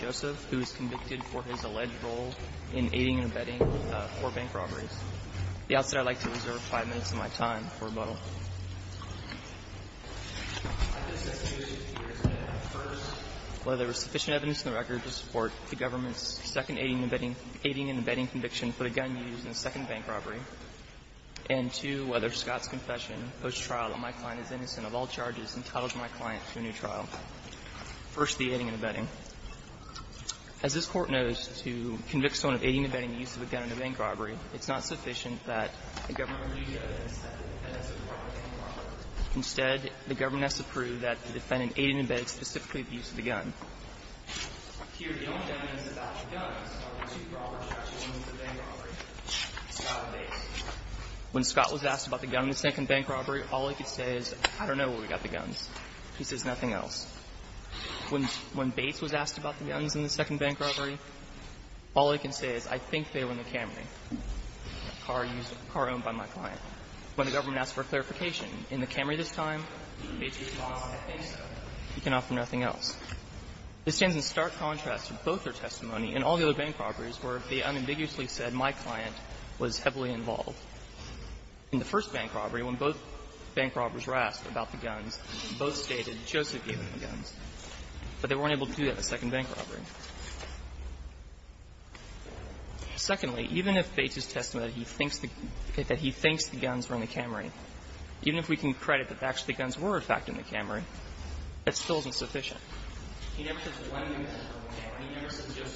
Joseph, who is convicted for his alleged role in aiding and abetting four bank robberies. At the outset, I would like to reserve five minutes of my time for rebuttal. I have been sentenced to two years in prison, the first where there was sufficient evidence in the record to support the government's second aiding and abetting conviction for the gun used in the second bank robbery, and two years in prison to whether Scott's confession post-trial that my client is innocent of all charges entitles my client to a new trial. First, the aiding and abetting. As this Court knows, to convict someone of aiding and abetting the use of a gun in a bank robbery, it's not sufficient that the government release evidence that the defendant supported the bank robbery. Instead, the government has to prove that the defendant aided and abetted specifically the use of the gun. Here, the only evidence about the guns are the two proper structures in the bank robbery, Scott and Bates. When Scott was asked about the gun in the second bank robbery, all he could say is, I don't know where we got the guns. He says nothing else. When Bates was asked about the guns in the second bank robbery, all he can say is, I think they were in the Camry, a car used, a car owned by my client. When the government asks for clarification in the Camry this time, Bates responds, I think so. He can offer nothing else. This stands in stark contrast to both their testimony in all the other bank robberies where they unambiguously said, my client was heavily involved. In the first bank robbery, when both bank robbers were asked about the guns, both stated Joseph gave them the guns, but they weren't able to do that in the second bank robbery. Secondly, even if Bates has testified that he thinks the guns were in the Camry, even if we can credit that actually the guns were, in fact, in the Camry, that still isn't sufficient. He never says that one of them is in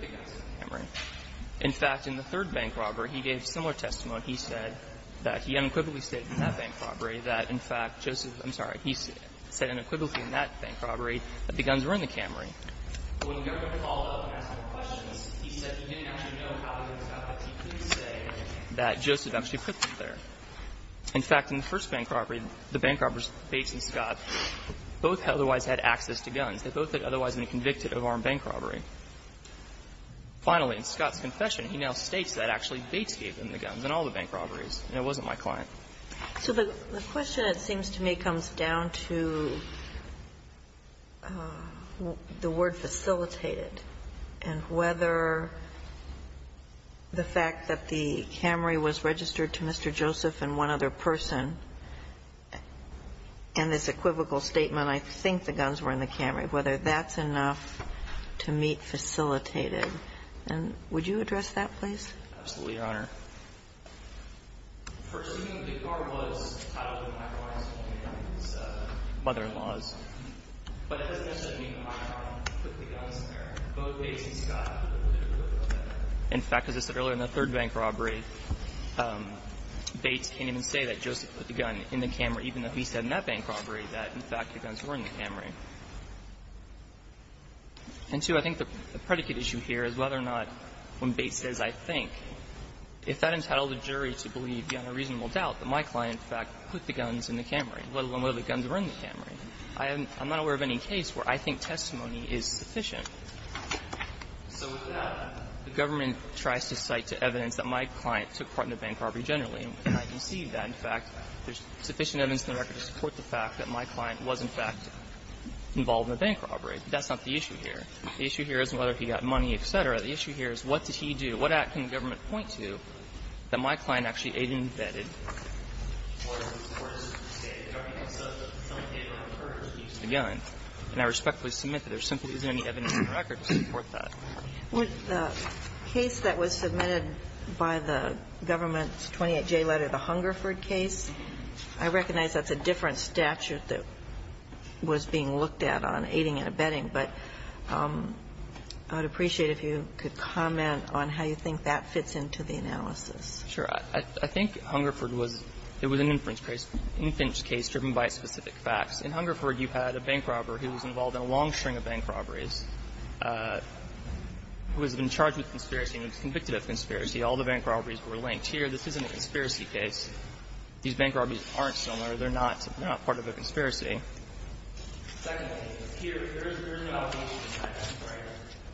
the Camry. In fact, in the third bank robbery, he gave similar testimony. He said that he unequivocally stated in that bank robbery that, in fact, Joseph was unequivocally in that bank robbery that the guns were in the Camry. But when the government called up and asked more questions, he said he didn't actually know how he was going to get to the point that he couldn't say that Joseph actually put them there. In fact, in the first bank robbery, the bank robbers, Bates and Scott, both otherwise had access to guns. They both had otherwise been convicted of armed bank robbery. Finally, in Scott's confession, he now states that actually Bates gave them the guns in all the bank robberies, and it wasn't my client. Ginsburg. So the question, it seems to me, comes down to the word facilitated and whether the fact that the Camry was registered to Mr. Joseph and one other person and this equivocal statement, I think the guns were in the Camry, whether that's enough to meet facilitated. And would you address that, please? Absolutely, Your Honor. Perceiving that the car was titled in my client's mother-in-law's, but that doesn't necessarily mean that my client put the guns in there. Both Bates and Scott put the guns in there. In fact, as I said earlier, in the third bank robbery, Bates can't even say that Joseph put the gun in the Camry, even though he said in that bank robbery that, in fact, the guns were in the Camry. And, too, I think the predicate issue here is whether or not, when Bates says, I think, if that entitled a jury to believe beyond a reasonable doubt that my client, in fact, put the guns in the Camry, let alone whether the guns were in the Camry, I'm not aware of any case where I think testimony is sufficient. So without that, the government tries to cite to evidence that my client took part in the bank robbery generally, and I can see that, in fact, there's sufficient evidence in the record to support the fact that my client was, in fact, involved in a bank robbery. But that's not the issue here. The issue here isn't whether he got money, et cetera. The issue here is what did he do? What act can the government point to that my client actually aid and abetted or supported, say, the government says that someone did, like, purchase the guns. And I respectfully submit that there simply isn't any evidence in the record to support that. Ginsburg. The case that was submitted by the government's 28J letter, the Hungerford case, I recognize that's a different statute that was being looked at on aiding and abetting, but I would appreciate if you could comment on how you think that fits into the analysis. Sure. I think Hungerford was an inference case, an inference case driven by specific facts. In Hungerford, you had a bank robber who was involved in a long string of bank robberies who has been charged with conspiracy and was convicted of conspiracy. All the bank robberies were linked. Here, this isn't a conspiracy case. These bank robberies aren't similar. They're not part of a conspiracy.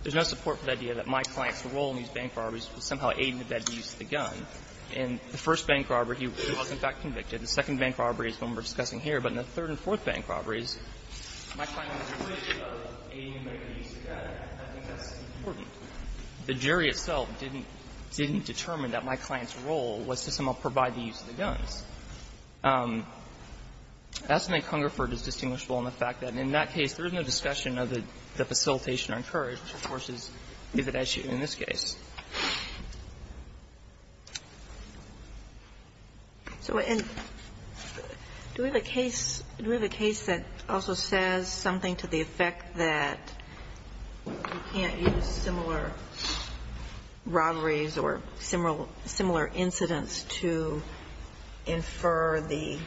There's no support for the idea that my client's role in these bank robberies was somehow aiding and abetting the use of the gun. In the first bank robbery, he was, in fact, convicted. The second bank robbery is the one we're discussing here. But in the third and fourth bank robberies, my client was convicted of aiding and abetting the use of the gun, and I think that's important. The jury itself didn't determine that my client's role was to somehow provide the use of the guns. That's something Hungerford is distinguishable in the fact that in that case, there is no discussion of the facilitation or encouragement, which, of course, is evident in this case. And do we have a case that also says something to the effect that you can't use similar robberies or similar incidents to infer the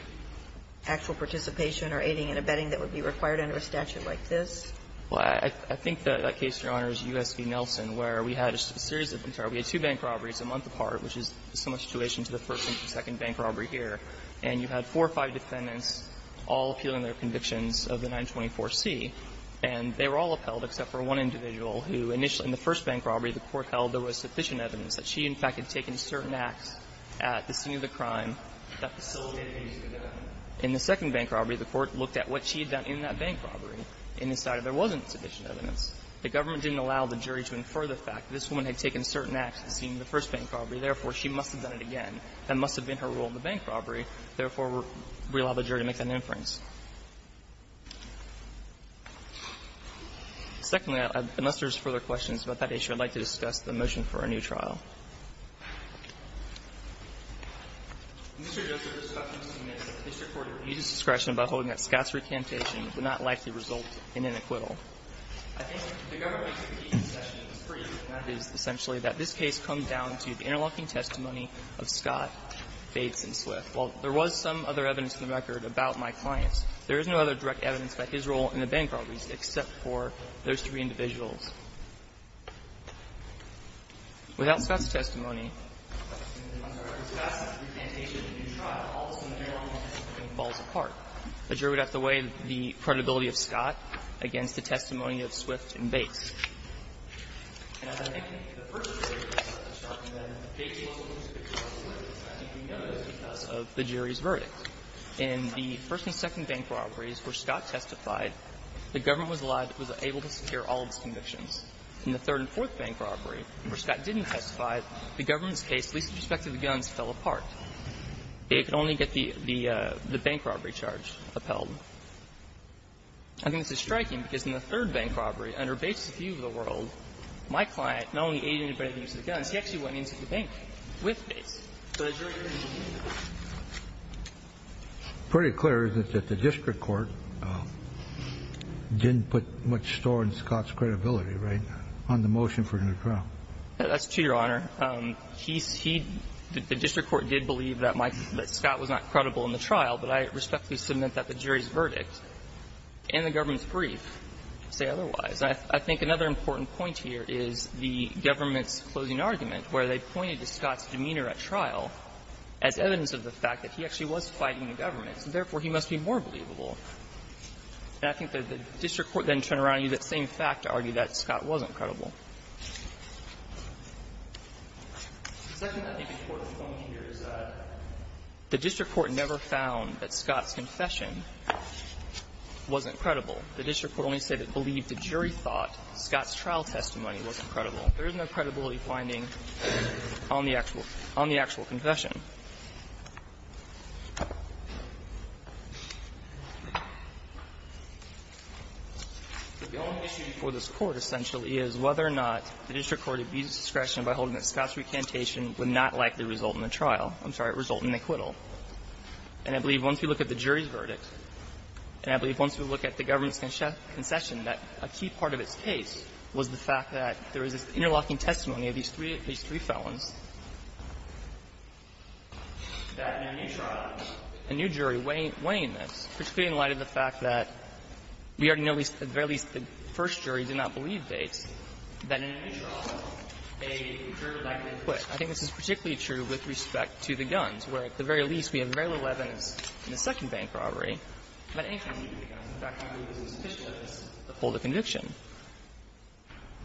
actual participation or aiding and abetting that would be required under a statute like this? Well, I think that case, Your Honors, U.S. v. Nelson, where we had a series of entire we had two bank robberies a month apart, which is similar situation to the first and second bank robbery here. And you had four or five defendants all appealing their convictions of the 924C, and they were all upheld except for one individual who initially in the first bank robbery the Court held there was sufficient evidence that she, in fact, had taken certain acts at the scene of the crime that facilitated the use of the gun. In the second bank robbery, the Court looked at what she had done in that bank robbery and decided there wasn't sufficient evidence. The government didn't allow the jury to infer the fact that this woman had taken certain acts at the scene of the first bank robbery. Therefore, she must have done it again. That must have been her role in the bank robbery. Therefore, we allow the jury to make that inference. Secondly, unless there's further questions about that issue, I'd like to discuss the motion for a new trial. Mr. Joseph, this Court needs to admit that this Court has reduced discretion by holding that Scott's recantation would not likely result in an acquittal. I think the government makes a critique of the session that is free, and that is essentially that this case comes down to the interlocking testimony of Scott, Bates, and Swift. While there was some other evidence in the record about my clients, there is no other direct evidence about his role in the bank robberies except for those three individuals. Without Scott's testimony, the jury would have to weigh the credibility of Scott against the testimony of Swift and Bates. And the first and second bank robberies where Scott testified, the government was able to secure all of his convictions. In the third and fourth bank robbery, where Scott didn't testify, the government's case, at least with respect to the guns, fell apart. It could only get the bank robbery charge upheld. I think this is striking because in the third bank robbery, under Bates' view of the world, my client not only aided and abetted the use of the guns, he actually went into the bank with Bates. So the jury didn't believe that. Pretty clear, isn't it, that the district court didn't put much store in Scott's credibility, right, on the motion for a new trial? That's true, Your Honor. He's he'd the district court did believe that Scott was not credible in the trial, but I respectfully submit that the jury's verdict and the government's brief say otherwise. I think another important point here is the government's closing argument, where they pointed to Scott's demeanor at trial as evidence of the fact that he actually was fighting the government, so therefore he must be more believable. And I think that the district court then turned around and used that same fact to argue that Scott wasn't credible. The second I think important point here is that the district court never found that Scott's confession wasn't credible. The district court only said it believed the jury thought Scott's trial testimony was credible. There is no credibility finding on the actual confession. The only issue before this Court essentially is whether or not the district court abused discretion by holding that Scott's recantation would not likely result in a trial. I'm sorry, result in acquittal. And I believe once we look at the jury's verdict, and I believe once we look at the government's concession, that a key part of its case was the fact that there is this interlocking testimony of these three felons, that in a new trial, a new jury weighing this, particularly in light of the fact that we already know at the very least the first jury did not believe Bates, that in a new trial, a jury would likely acquit. I think this is particularly true with respect to the guns, where at the very least we have very little evidence in the second bank robbery about any kind of use of the guns. In fact, I don't think there's sufficient evidence to hold a conviction.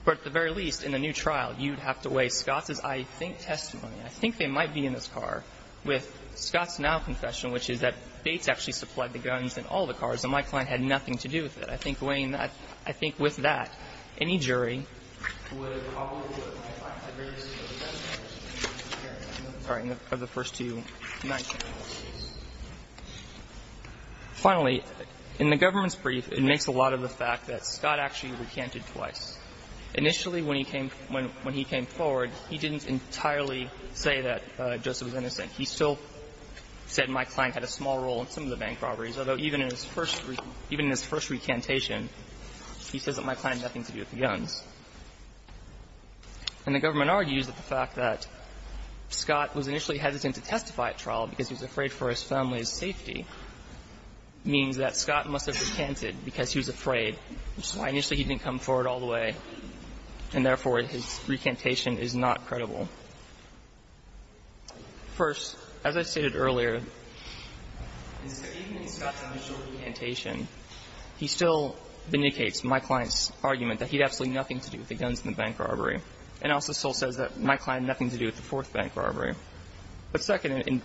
But at the very least, in a new trial, you'd have to weigh Scott's, I think, testimony. I think they might be in this car with Scott's now confession, which is that Bates actually supplied the guns in all the cars, and my client had nothing to do with it. I think weighing that, I think with that, any jury would probably look at my client's very discreet testimony. I'm sorry, of the first two nine cases. Finally, in the government's brief, it makes a lot of the fact that Scott actually recanted twice. Initially, when he came forward, he didn't entirely say that Joseph was innocent. He still said my client had a small role in some of the bank robberies, although even in his first recantation, he says that my client had nothing to do with the guns. And the government argues that the fact that Scott was initially hesitant to testify at trial because he was afraid for his family's safety means that Scott must have recanted because he was afraid, which is why initially he didn't come forward all the way, and therefore his recantation is not credible. First, as I stated earlier, even in Scott's initial recantation, he still vindicates my client's argument that he had absolutely nothing to do with the guns in the bank robbery, and also still says that my client had nothing to do with the fourth bank robbery. But second, and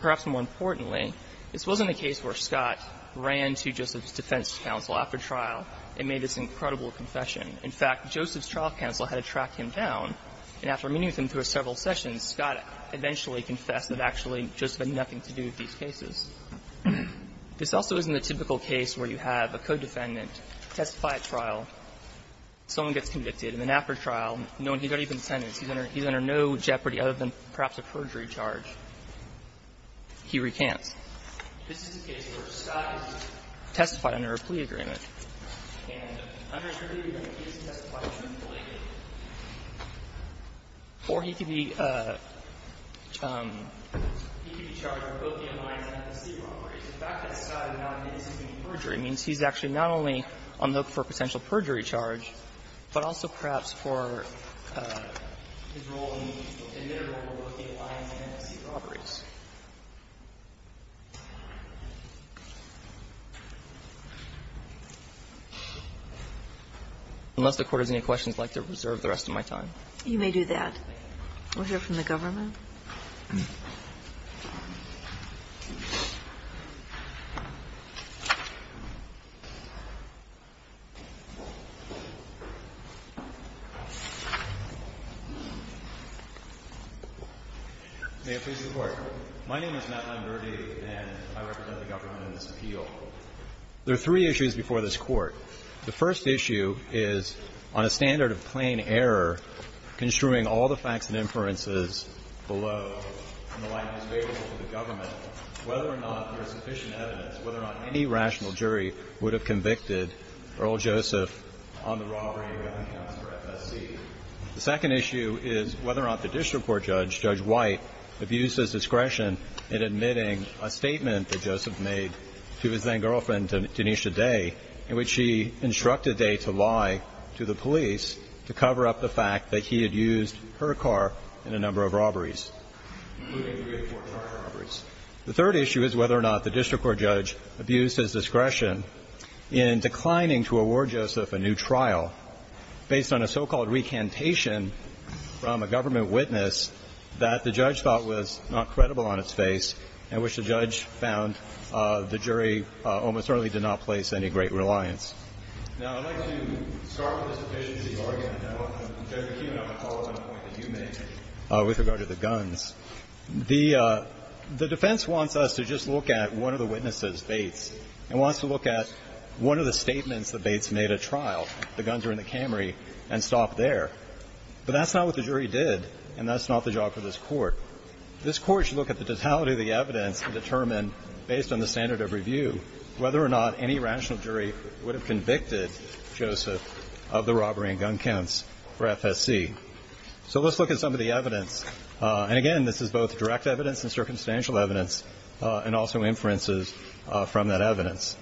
perhaps more importantly, this wasn't a case where Scott ran to Joseph's defense counsel after trial and made this incredible confession. In fact, Joseph's trial counsel had to track him down, and after meeting with him through several sessions, Scott eventually confessed that actually Joseph had nothing to do with these cases. This also isn't a typical case where you have a co-defendant testify at trial, someone gets convicted, and then after trial, knowing he's already been sentenced, he's under no jeopardy other than perhaps a perjury charge, he recants. This is a case where Scott has testified under a plea agreement, and under a plea agreement, he has testified truthfully, or he could be charged for both the M-I and M-S-C robberies. The fact that Scott has now admitted he's been perjured means he's actually not only on the hook for a potential perjury charge, but also perhaps for his role in the admittable role of the M-I and M-S-C robberies. Unless the Court has any questions, I'd like to reserve the rest of my time. You may do that. We'll hear from the government. Thank you, Your Honor. May it please the Court. My name is Matt Lamberty, and I represent the government in this appeal. There are three issues before this Court. The first issue is, on a standard of plain error, construing all the facts and inferences below in the light of his favorable to the government, whether or not there is sufficient evidence, whether or not any rational jury would have convicted Earl Joseph on the robbery of an accounts for M-S-C. The second issue is whether or not the district court judge, Judge White, abused his discretion in admitting a statement that Joseph made to his then-girlfriend, Danesha Day, in which she instructed Day to lie to the police to cover up the fact that he had used her car in a number of robberies, including three or four car robberies. The third issue is whether or not the district court judge abused his discretion in declining to award Joseph a new trial based on a so-called recantation from a government witness that the judge thought was not credible on its face and which the judge found the jury almost certainly did not place any great reliance. Now, I'd like to start with this efficiency argument, and I want to turn to you, Your Honor, on the following point that you made with regard to the guns. The defense wants us to just look at one of the witnesses, Bates, and wants to look at one of the statements that Bates made at trial, the guns were in the Camry, and stop there. But that's not what the jury did, and that's not the job for this Court. This Court should look at the totality of the evidence and determine, based on the standard of review, whether or not any rational jury would have convicted Joseph of the robbery and gun counts for FSC. So let's look at some of the evidence. And again, this is both direct evidence and circumstantial evidence, and also inferences from that evidence.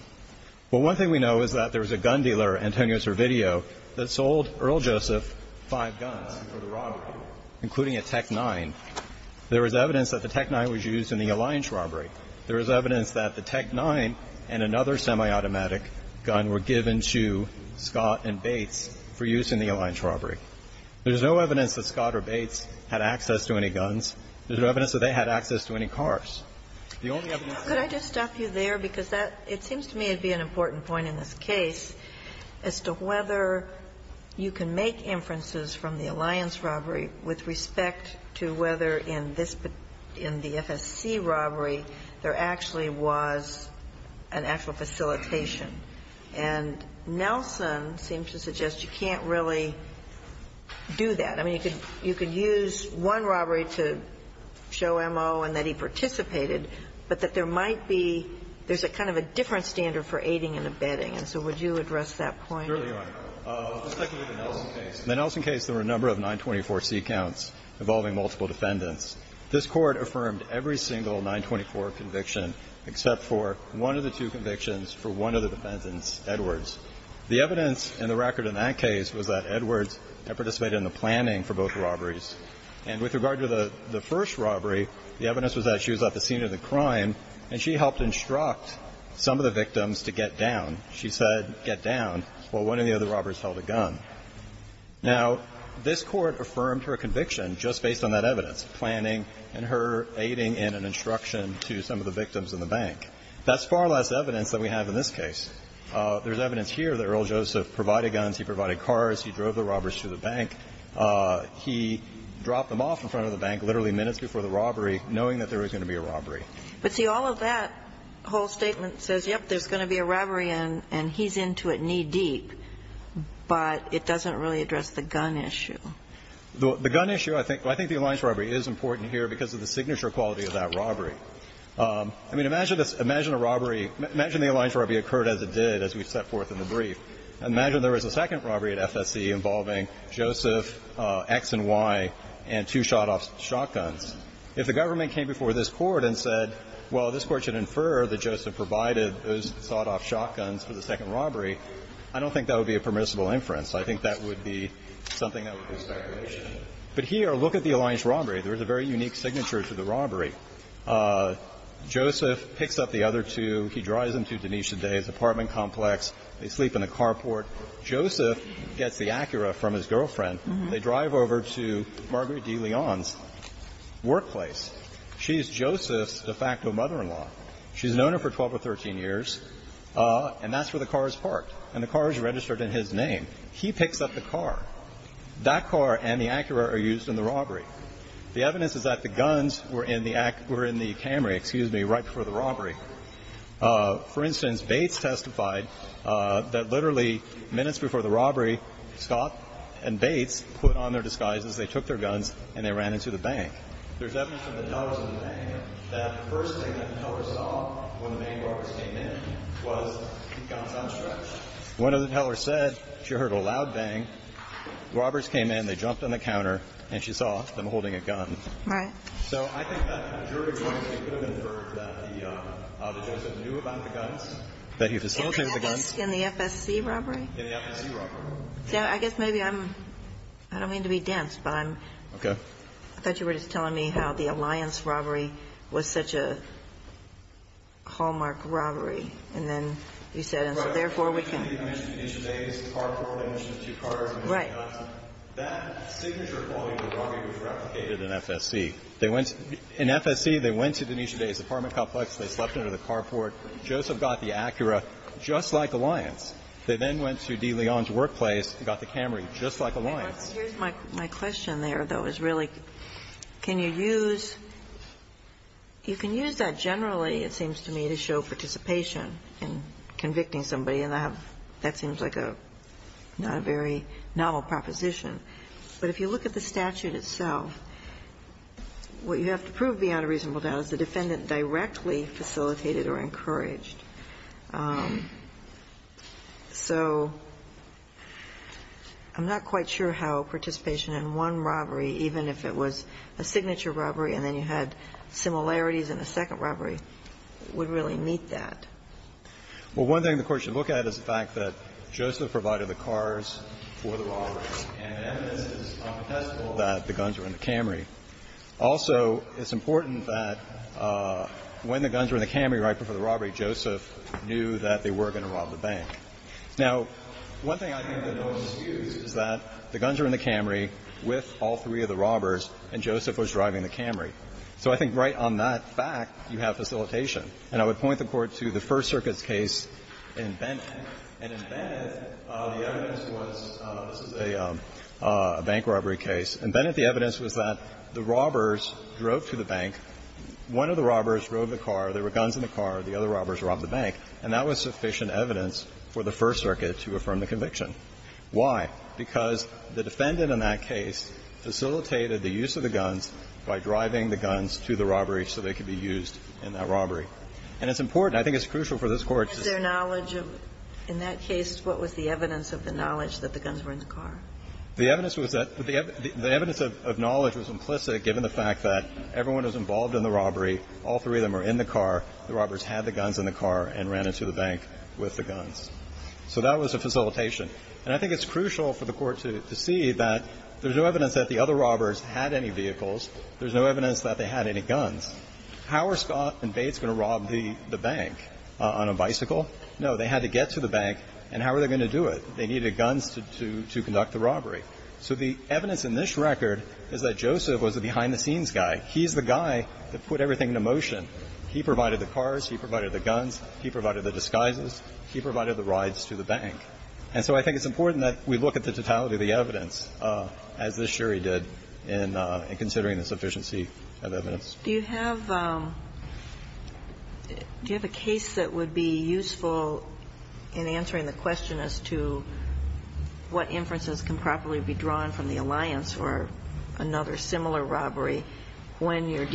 Well, one thing we know is that there was a gun dealer, Antonio Servideo, that sold Earl Joseph five guns for the robbery, including a Tech-9. There was evidence that the Tech-9 was used in the Alliance robbery. There is evidence that the Tech-9 and another semiautomatic gun were given to Scott and Bates for use in the Alliance robbery. There is no evidence that Scott or Bates had access to any guns. There's no evidence that they had access to any cars. The only evidence. Ginsburg – Could I just stop you there? Because that – it seems to me it'd be an important point in this case as to whether you can make inferences from the Alliance robbery with respect to whether in this case, in the FSC robbery, there actually was an actual facilitation. And Nelson seems to suggest you can't really do that. I mean, you could use one robbery to show M.O. and that he participated, but that there might be – there's a kind of a different standard for aiding and abetting. And so would you address that point? Certainly, Your Honor. With respect to the Nelson case, in the Nelson case there were a number of 924C counts involving multiple defendants. This Court affirmed every single 924 conviction except for one of the two convictions for one of the defendants, Edwards. The evidence in the record in that case was that Edwards had participated in the planning for both robberies. And with regard to the first robbery, the evidence was that she was at the scene of the crime, and she helped instruct some of the victims to get down. She said, get down, while one of the other robbers held a gun. Now, this Court affirmed her conviction just based on that evidence, planning and her aiding and an instruction to some of the victims in the bank. That's far less evidence than we have in this case. There's evidence here that Earl Joseph provided guns, he provided cars, he drove the robbers to the bank. He dropped them off in front of the bank literally minutes before the robbery, knowing that there was going to be a robbery. But, see, all of that whole statement says, yes, there's going to be a robbery and he's into it knee-deep, but it doesn't really address the gun issue. The gun issue, I think the alliance robbery is important here because of the signature quality of that robbery. I mean, imagine a robbery, imagine the alliance robbery occurred as it did, as we set forth in the brief. Imagine there was a second robbery at FSC involving Joseph, X and Y, and two shot-off shotguns. If the government came before this Court and said, well, this Court should infer that Joseph provided those shot-off shotguns for the second robbery, I don't think that would be a permissible inference. I think that would be something that would be a speculation. But here, look at the alliance robbery. There is a very unique signature to the robbery. Joseph picks up the other two, he drives them to Denise's apartment complex, they sleep in a carport. Joseph gets the Acura from his girlfriend. They drive over to Marguerite de Leon's workplace. She is Joseph's de facto mother-in-law. She's known him for 12 or 13 years, and that's where the car is parked. And the car is registered in his name. He picks up the car. That car and the Acura are used in the robbery. The evidence is that the guns were in the Camry, excuse me, right before the robbery. For instance, Bates testified that literally minutes before the robbery, Scott and Bates put on their disguises, they took their guns, and they ran into the bank. There's evidence from the tellers in the bank that the first thing that the teller saw when the main robbers came in was guns on stretch. One of the tellers said she heard a loud bang, robbers came in, they jumped on the counter, and she saw them holding a gun. Right. So I think that jury would have inferred that Joseph knew about the guns, that he facilitated the guns. In the FSC robbery? In the FSC robbery. I guess maybe I'm – I don't mean to be dense, but I'm – Okay. I thought you were just telling me how the Alliance robbery was such a hallmark robbery, and then you said, and so therefore we can – Right. Right. That signature quality of the robbery was replicated in FSC. They went – in FSC, they went to Denise O'Day's apartment complex, they slept under the carport. Joseph got the Acura, just like Alliance. They then went to D. Leon's workplace and got the Camry, just like Alliance. Here's my question there, though, is really can you use – you can use that generally, it seems to me, to show participation in convicting somebody, and I have – that seems like a – not a very novel proposition. But if you look at the statute itself, what you have to prove beyond a reasonable doubt is the defendant directly facilitated or encouraged. So I'm not quite sure how participation in one robbery, even if it was a signature robbery and then you had similarities in a second robbery, would really meet that. Well, one thing the Court should look at is the fact that Joseph provided the cars for the robbery, and evidence is unquestionable that the guns were in the Camry. Also, it's important that when the guns were in the Camry right before the robbery, Joseph knew that they were going to rob the bank. Now, one thing I think that most is used is that the guns are in the Camry with all three of the robbers, and Joseph was driving the Camry. So I think right on that fact, you have facilitation. And I would point the Court to the First Circuit's case in Bennett. And in Bennett, the evidence was – this is a bank robbery case. In Bennett, the evidence was that the robbers drove to the bank. One of the robbers drove the car. There were guns in the car. The other robbers robbed the bank. And that was sufficient evidence for the First Circuit to affirm the conviction. Why? Because the defendant in that case facilitated the use of the guns by driving the guns to the robbery so they could be used in that robbery. And it's important. I think it's crucial for this Court to say that. In that case, what was the evidence of the knowledge that the guns were in the car? The evidence was that – the evidence of knowledge was implicit, given the fact that everyone was involved in the robbery, all three of them were in the car, the robbers had the guns in the car, and ran into the bank with the guns. So that was a facilitation. And I think it's crucial for the Court to see that there's no evidence that the other robbers had any vehicles. There's no evidence that they had any guns. How were Scott and Bates going to rob the bank on a bicycle? No, they had to get to the bank. And how were they going to do it? They needed guns to conduct the robbery. So the evidence in this record is that Joseph was a behind-the-scenes guy. He's the guy that put everything into motion. He provided the cars. He provided the guns. He provided the disguises. He provided the rides to the bank. And so I think it's important that we look at the totality of the evidence, as this jury did, in considering the sufficiency of evidence. Do you have a case that would be useful in answering the question as to what inferences can properly be drawn from the alliance for another similar robbery when you're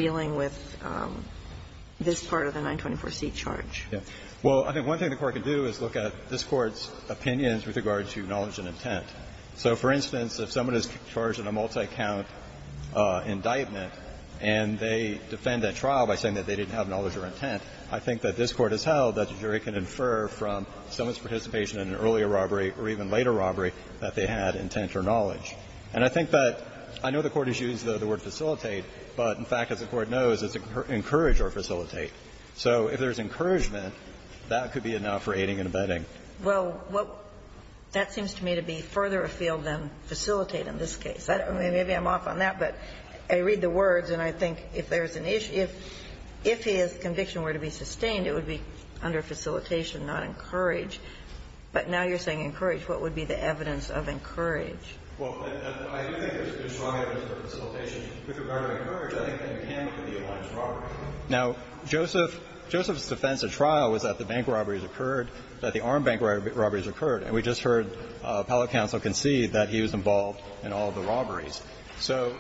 Well, I think one thing the Court can do is look at this Court's opinions with regard to knowledge and intent. So, for instance, if someone is charged in a multi-count indictment and they defend that trial by saying that they didn't have knowledge or intent, I think that this Court has held that the jury can infer from someone's participation in an earlier robbery or even later robbery that they had intent or knowledge. And I think that the Court has used the word facilitate, but in fact, as the Court knows, it's encourage or facilitate. So if there's encouragement, that could be enough for aiding and abetting. Well, what that seems to me to be further afield than facilitate in this case. I don't know. Maybe I'm off on that, but I read the words and I think if there's an issue, if his conviction were to be sustained, it would be under facilitation, not encourage. But now you're saying encourage. What would be the evidence of encourage? Well, I do think there's strong evidence for facilitation. With regard to encourage, I think that can be in the alliance for robbery. Now, Joseph's defense at trial was that the bank robberies occurred, that the armed bank robberies occurred, and we just heard appellate counsel concede that he was involved in all of the robberies. So,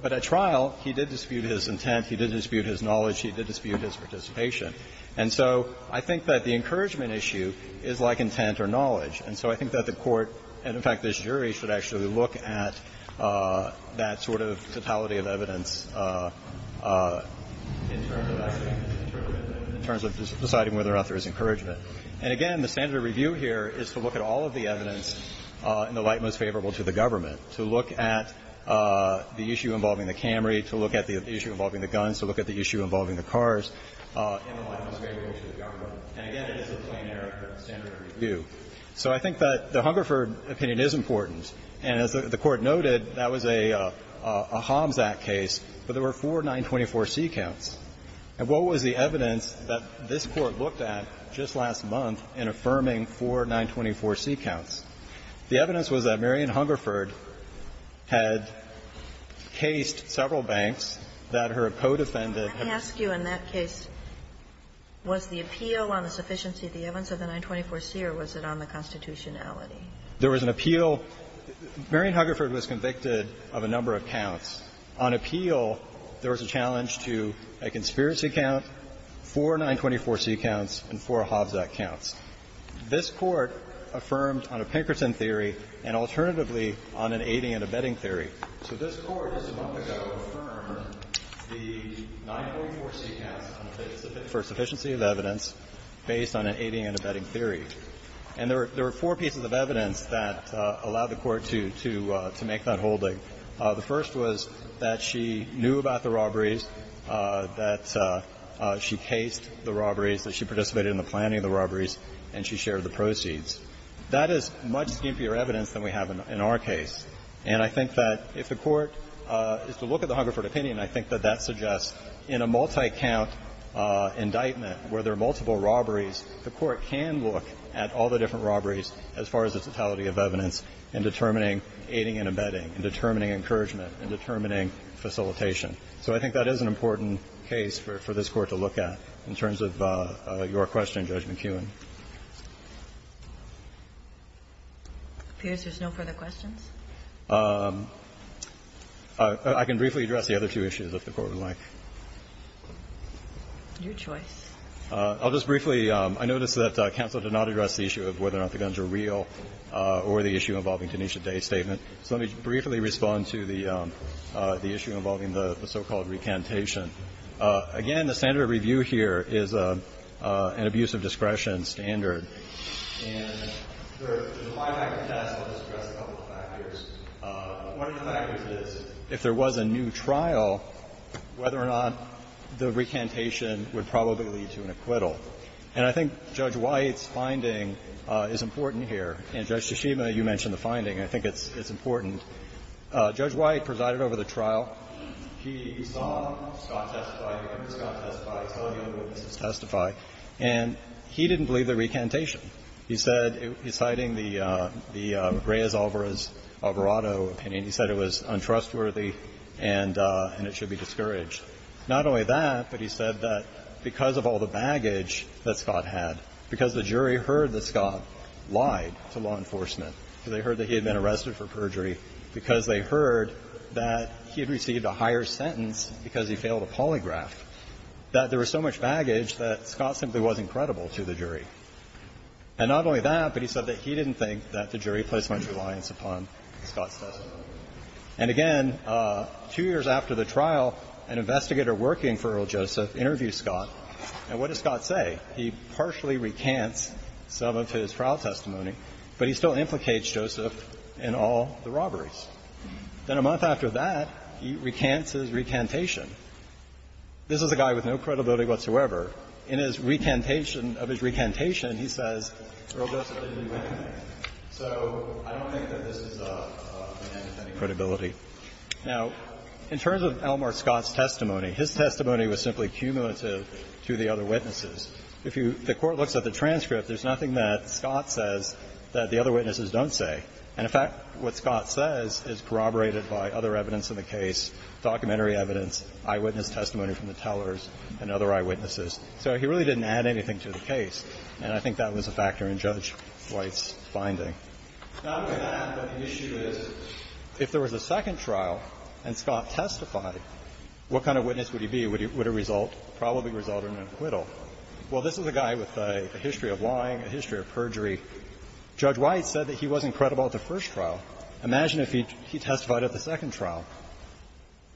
but at trial, he did dispute his intent, he did dispute his knowledge, he did dispute his participation. And so I think that the encouragement issue is like intent or knowledge. And so I think that the Court, and in fact, this jury, should actually look at that sort of totality of evidence in terms of deciding whether or not there is encouragement. And again, the standard of review here is to look at all of the evidence in the light most favorable to the government, to look at the issue involving the Camry, to look at the issue involving the guns, to look at the issue involving the cars in the light most favorable to the government. And again, it is a plainer standard of review. So I think that the Hungerford opinion is important. And as the Court noted, that was a HOMS Act case, but there were four 924C counts. And what was the evidence that this Court looked at just last month in affirming four 924C counts? The evidence was that Marion Hungerford had cased several banks that her co-defendant had been in. Kagan. Kagan. And I ask you, in that case, was the appeal on the sufficiency of the evidence of the 924C, or was it on the constitutionality? There was an appeal. Marion Hungerford was convicted of a number of counts. On appeal, there was a challenge to a conspiracy count, four 924C counts, and four HOVS Act counts. This Court affirmed on a Pinkerton theory and alternatively on an abetting theory. So this Court just a month ago affirmed the 924C counts for sufficiency of evidence based on an abetting theory. And there were four pieces of evidence that allowed the Court to make that holding. The first was that she knew about the robberies, that she cased the robberies, that she participated in the planning of the robberies, and she shared the proceeds. That is much skimpier evidence than we have in our case. And I think that if the Court is to look at the Hungerford opinion, I think that that suggests in a multi-count indictment where there are multiple robberies, the Court can look at all the different robberies as far as the totality of evidence in determining aiding and abetting, in determining encouragement, in determining facilitation. So I think that is an important case for this Court to look at in terms of your question, Judge McKeown. It appears there's no further questions. I can briefly address the other two issues, if the Court would like. Your choice. I'll just briefly – I notice that counsel did not address the issue of whether or not the guns are real or the issue involving Tanisha Day's statement. So let me briefly respond to the issue involving the so-called recantation. Again, the standard of review here is an abuse of discretion standard. And there's a five-factor test that has addressed a couple of factors. One of the factors is if there was a new trial, whether or not the recantation would probably lead to an acquittal. And I think Judge White's finding is important here. And, Judge Toshima, you mentioned the finding. I think it's important. Judge White presided over the trial. He saw Scott testify, heard Scott testify, tell you the witnesses testify, and he didn't believe the recantation. He said – he's citing the Reyes-Alvarez-Alvarado opinion. He said it was untrustworthy and it should be discouraged. Not only that, but he said that because of all the baggage that Scott had, because the jury heard that Scott lied to law enforcement, because they heard that he had been arrested for perjury, because they heard that he had received a higher sentence because he failed a polygraph, that there was so much baggage that Scott simply wasn't credible to the jury. And not only that, but he said that he didn't think that the jury placed much reliance upon Scott's testimony. And again, two years after the trial, an investigator working for Earl Joseph interviewed Scott. And what did Scott say? He partially recants some of his trial testimony, but he still implicates Joseph in all the robberies. Then a month after that, he recants his recantation. This is a guy with no credibility whatsoever. In his recantation – of his recantation, he says, So I don't think that this is an end to any credibility. Now, in terms of Elmer Scott's testimony, his testimony was simply cumulative to the other witnesses. If you – the Court looks at the transcript, there's nothing that Scott says that the other witnesses don't say. And, in fact, what Scott says is corroborated by other evidence in the case, documentary evidence, eyewitness testimony from the tellers and other eyewitnesses. So he really didn't add anything to the case. And I think that was a factor in Judge White's finding. Now, I'm going to add that the issue is, if there was a second trial and Scott testified, what kind of witness would he be? Would he – would it result – probably result in an acquittal? Well, this is a guy with a history of lying, a history of perjury. Judge White said that he wasn't credible at the first trial. Imagine if he testified at the second trial.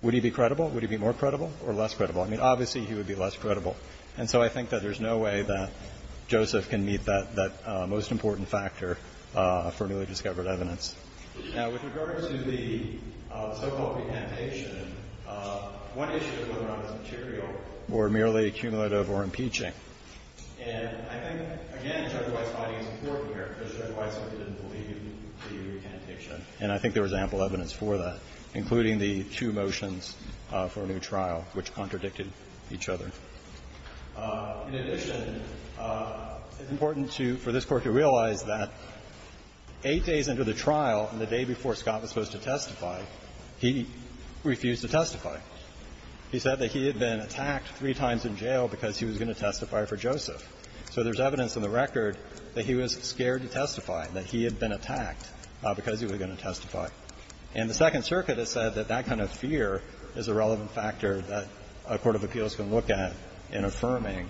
Would he be credible? Would he be more credible or less credible? I mean, obviously, he would be less credible. And so I think that there's no way that Joseph can meet that most important factor for newly discovered evidence. Now, with regard to the so-called recantation, one issue is whether or not this material were merely accumulative or impeaching. And I think, again, Judge White's finding is important here because Judge White certainly didn't believe in the recantation. And I think there was ample evidence for that, including the two motions for a new trial which contradicted each other. In addition, it's important to – for this Court to realize that eight days into the trial and the day before Scott was supposed to testify, he refused to testify. He said that he had been attacked three times in jail because he was going to testify for Joseph. So there's evidence in the record that he was scared to testify, that he had been attacked because he was going to testify. And the Second Circuit has said that that kind of fear is a relevant factor that a court of appeals can look at in affirming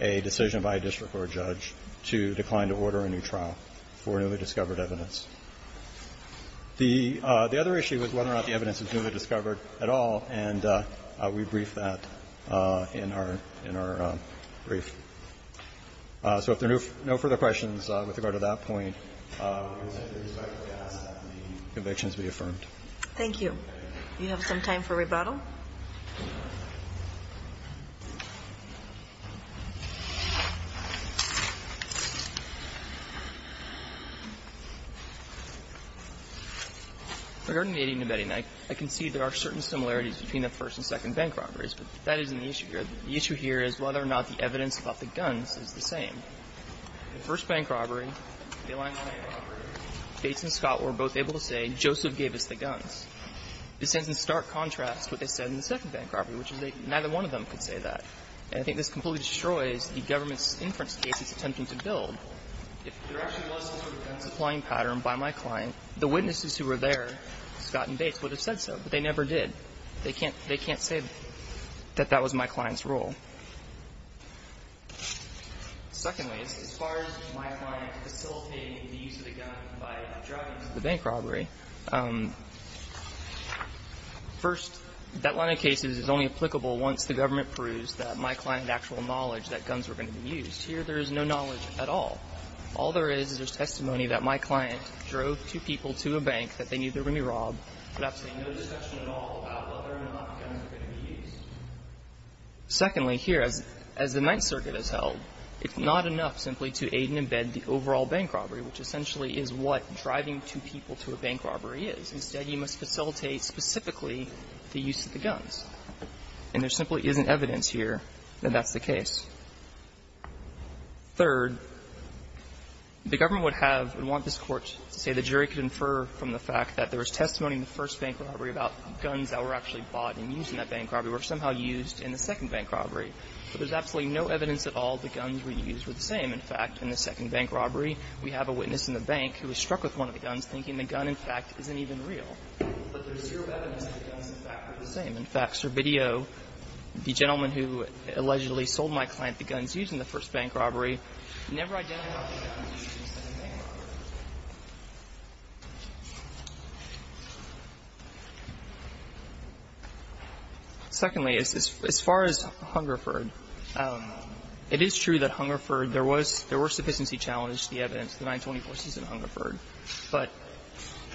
a decision by a district court judge to decline to order a new trial for newly discovered evidence. The other issue is whether or not the evidence is newly discovered at all, and we brief that in our – in our brief. So if there are no further questions with regard to that point, we would respectfully ask that the convictions be affirmed. Thank you. Do you have some time for rebuttal? Regarding the Aiding and Abetting Act, I concede there are certain similarities between the first and second bank robberies, but that isn't the issue here. The issue here is whether or not the evidence about the guns is the same. The first bank robbery, the Alignment Bank robbery, Bates and Scott were both able to say Joseph gave us the guns. This stands in stark contrast to what they said in the second bank robbery, which is that neither one of them could say that. And I think this completely destroys the government's inference case it's attempting to build. If there actually was some sort of gun supplying pattern by my client, the witnesses who were there, Scott and Bates, would have said so, but they never did. They can't – they can't say that that was my client's role. Secondly, as far as my client facilitating the use of the gun by driving to the bank robbery, first, that line of cases is only applicable once the government proves that my client had actual knowledge that guns were going to be used. Here, there is no knowledge at all. All there is, is there's testimony that my client drove two people to a bank that they knew they were going to be robbed, but absolutely no discussion at all about whether or not guns were going to be used. Secondly, here, as the Ninth Circuit has held, it's not enough simply to aid and abet the overall bank robbery, which essentially is what driving two people to a bank robbery is. Instead, you must facilitate specifically the use of the guns. And there simply isn't evidence here that that's the case. Third, the government would have and want this Court to say the jury could infer from the fact that there was testimony in the first bank robbery about guns that were actually bought and used in that bank robbery were somehow used in the second bank robbery. But there's absolutely no evidence at all the guns were used were the same. In fact, in the second bank robbery, we have a witness in the bank who was struck with one of the guns, thinking the gun, in fact, isn't even real. But there's zero evidence that the guns, in fact, were the same. In fact, Servideo, the gentleman who allegedly sold my client the guns used in the first bank robbery, never identified the guns used in the second bank robbery. Secondly, as far as Hungerford, it is true that Hungerford, there was – there were sufficiency challenges to the evidence, the 924C's in Hungerford. But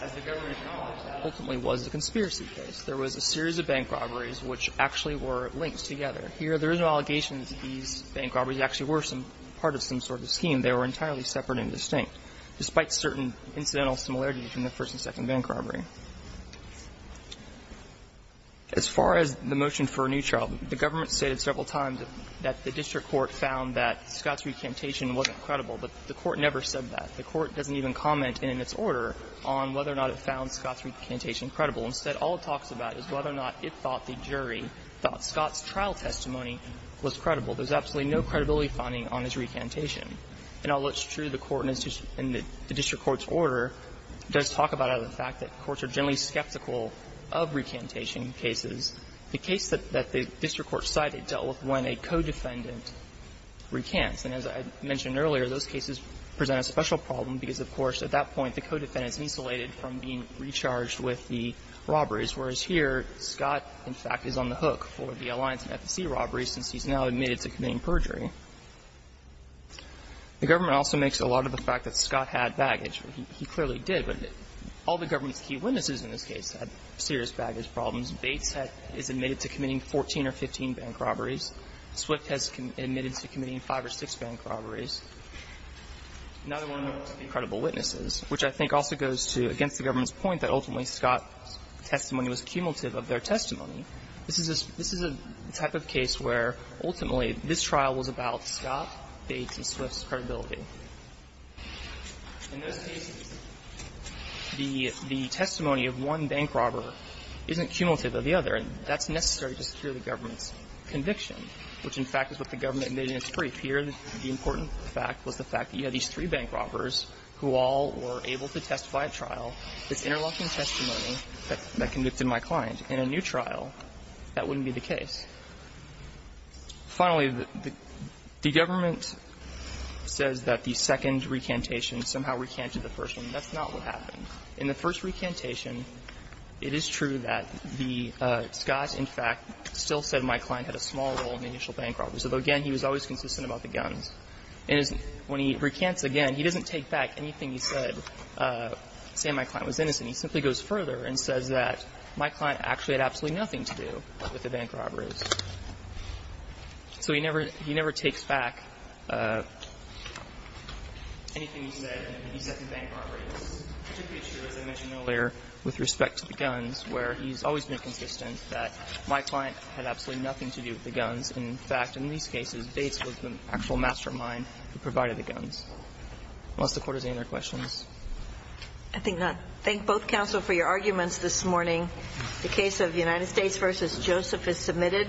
as the government acknowledged, that ultimately was a conspiracy case. There was a series of bank robberies which actually were linked together. Here, there is no allegation that these bank robberies actually were some – part of some sort of scheme. They were entirely separate and distinct. Despite certain incidental similarities between the first and second bank robbery. As far as the motion for a new trial, the government stated several times that the district court found that Scott's recantation wasn't credible. But the court never said that. The court doesn't even comment in its order on whether or not it found Scott's recantation credible. Instead, all it talks about is whether or not it thought the jury thought Scott's trial testimony was credible. There's absolutely no credibility finding on his recantation. In all, it's true the court in the district court's order does talk about it out of the fact that courts are generally skeptical of recantation cases. The case that the district court cited dealt with when a co-defendant recants. And as I mentioned earlier, those cases present a special problem because, of course, at that point, the co-defendant is insulated from being recharged with the robberies, whereas here, Scott, in fact, is on the hook for the Alliance and FEC robberies since he's now admitted to committing perjury. The government also makes a lot of the fact that Scott had baggage. He clearly did, but all the government's key witnesses in this case had serious baggage problems. Bates is admitted to committing 14 or 15 bank robberies. Swift has admitted to committing 5 or 6 bank robberies. Another one of the credible witnesses, which I think also goes to against the government's point that ultimately Scott's testimony was cumulative of their testimony. This is a type of case where ultimately this trial was about Scott, Bates, and Swift's credibility. In those cases, the testimony of one bank robber isn't cumulative of the other, and that's necessary to secure the government's conviction, which, in fact, is what the government made in its brief. Here, the important fact was the fact that you had these three bank robbers who all were able to testify at trial. This interlocking testimony that convicted my client in a new trial, that wouldn't be the case. Finally, the government says that the second recantation somehow recanted the first one, and that's not what happened. In the first recantation, it is true that the Scott, in fact, still said my client had a small role in the initial bank robberies, although, again, he was always consistent about the guns. And when he recants again, he doesn't take back anything he said, saying my client was innocent. He simply goes further and says that my client actually had absolutely nothing to do with the bank robberies. So he never takes back anything he said, anything he said to the bank robberies. It's particularly true, as I mentioned earlier, with respect to the guns, where he's always been consistent that my client had absolutely nothing to do with the guns. In fact, in these cases, Bates was the actual mastermind who provided the guns. Unless the Court has any other questions. I think not. Thank both counsel for your arguments this morning. The case of United States v. Joseph is submitted.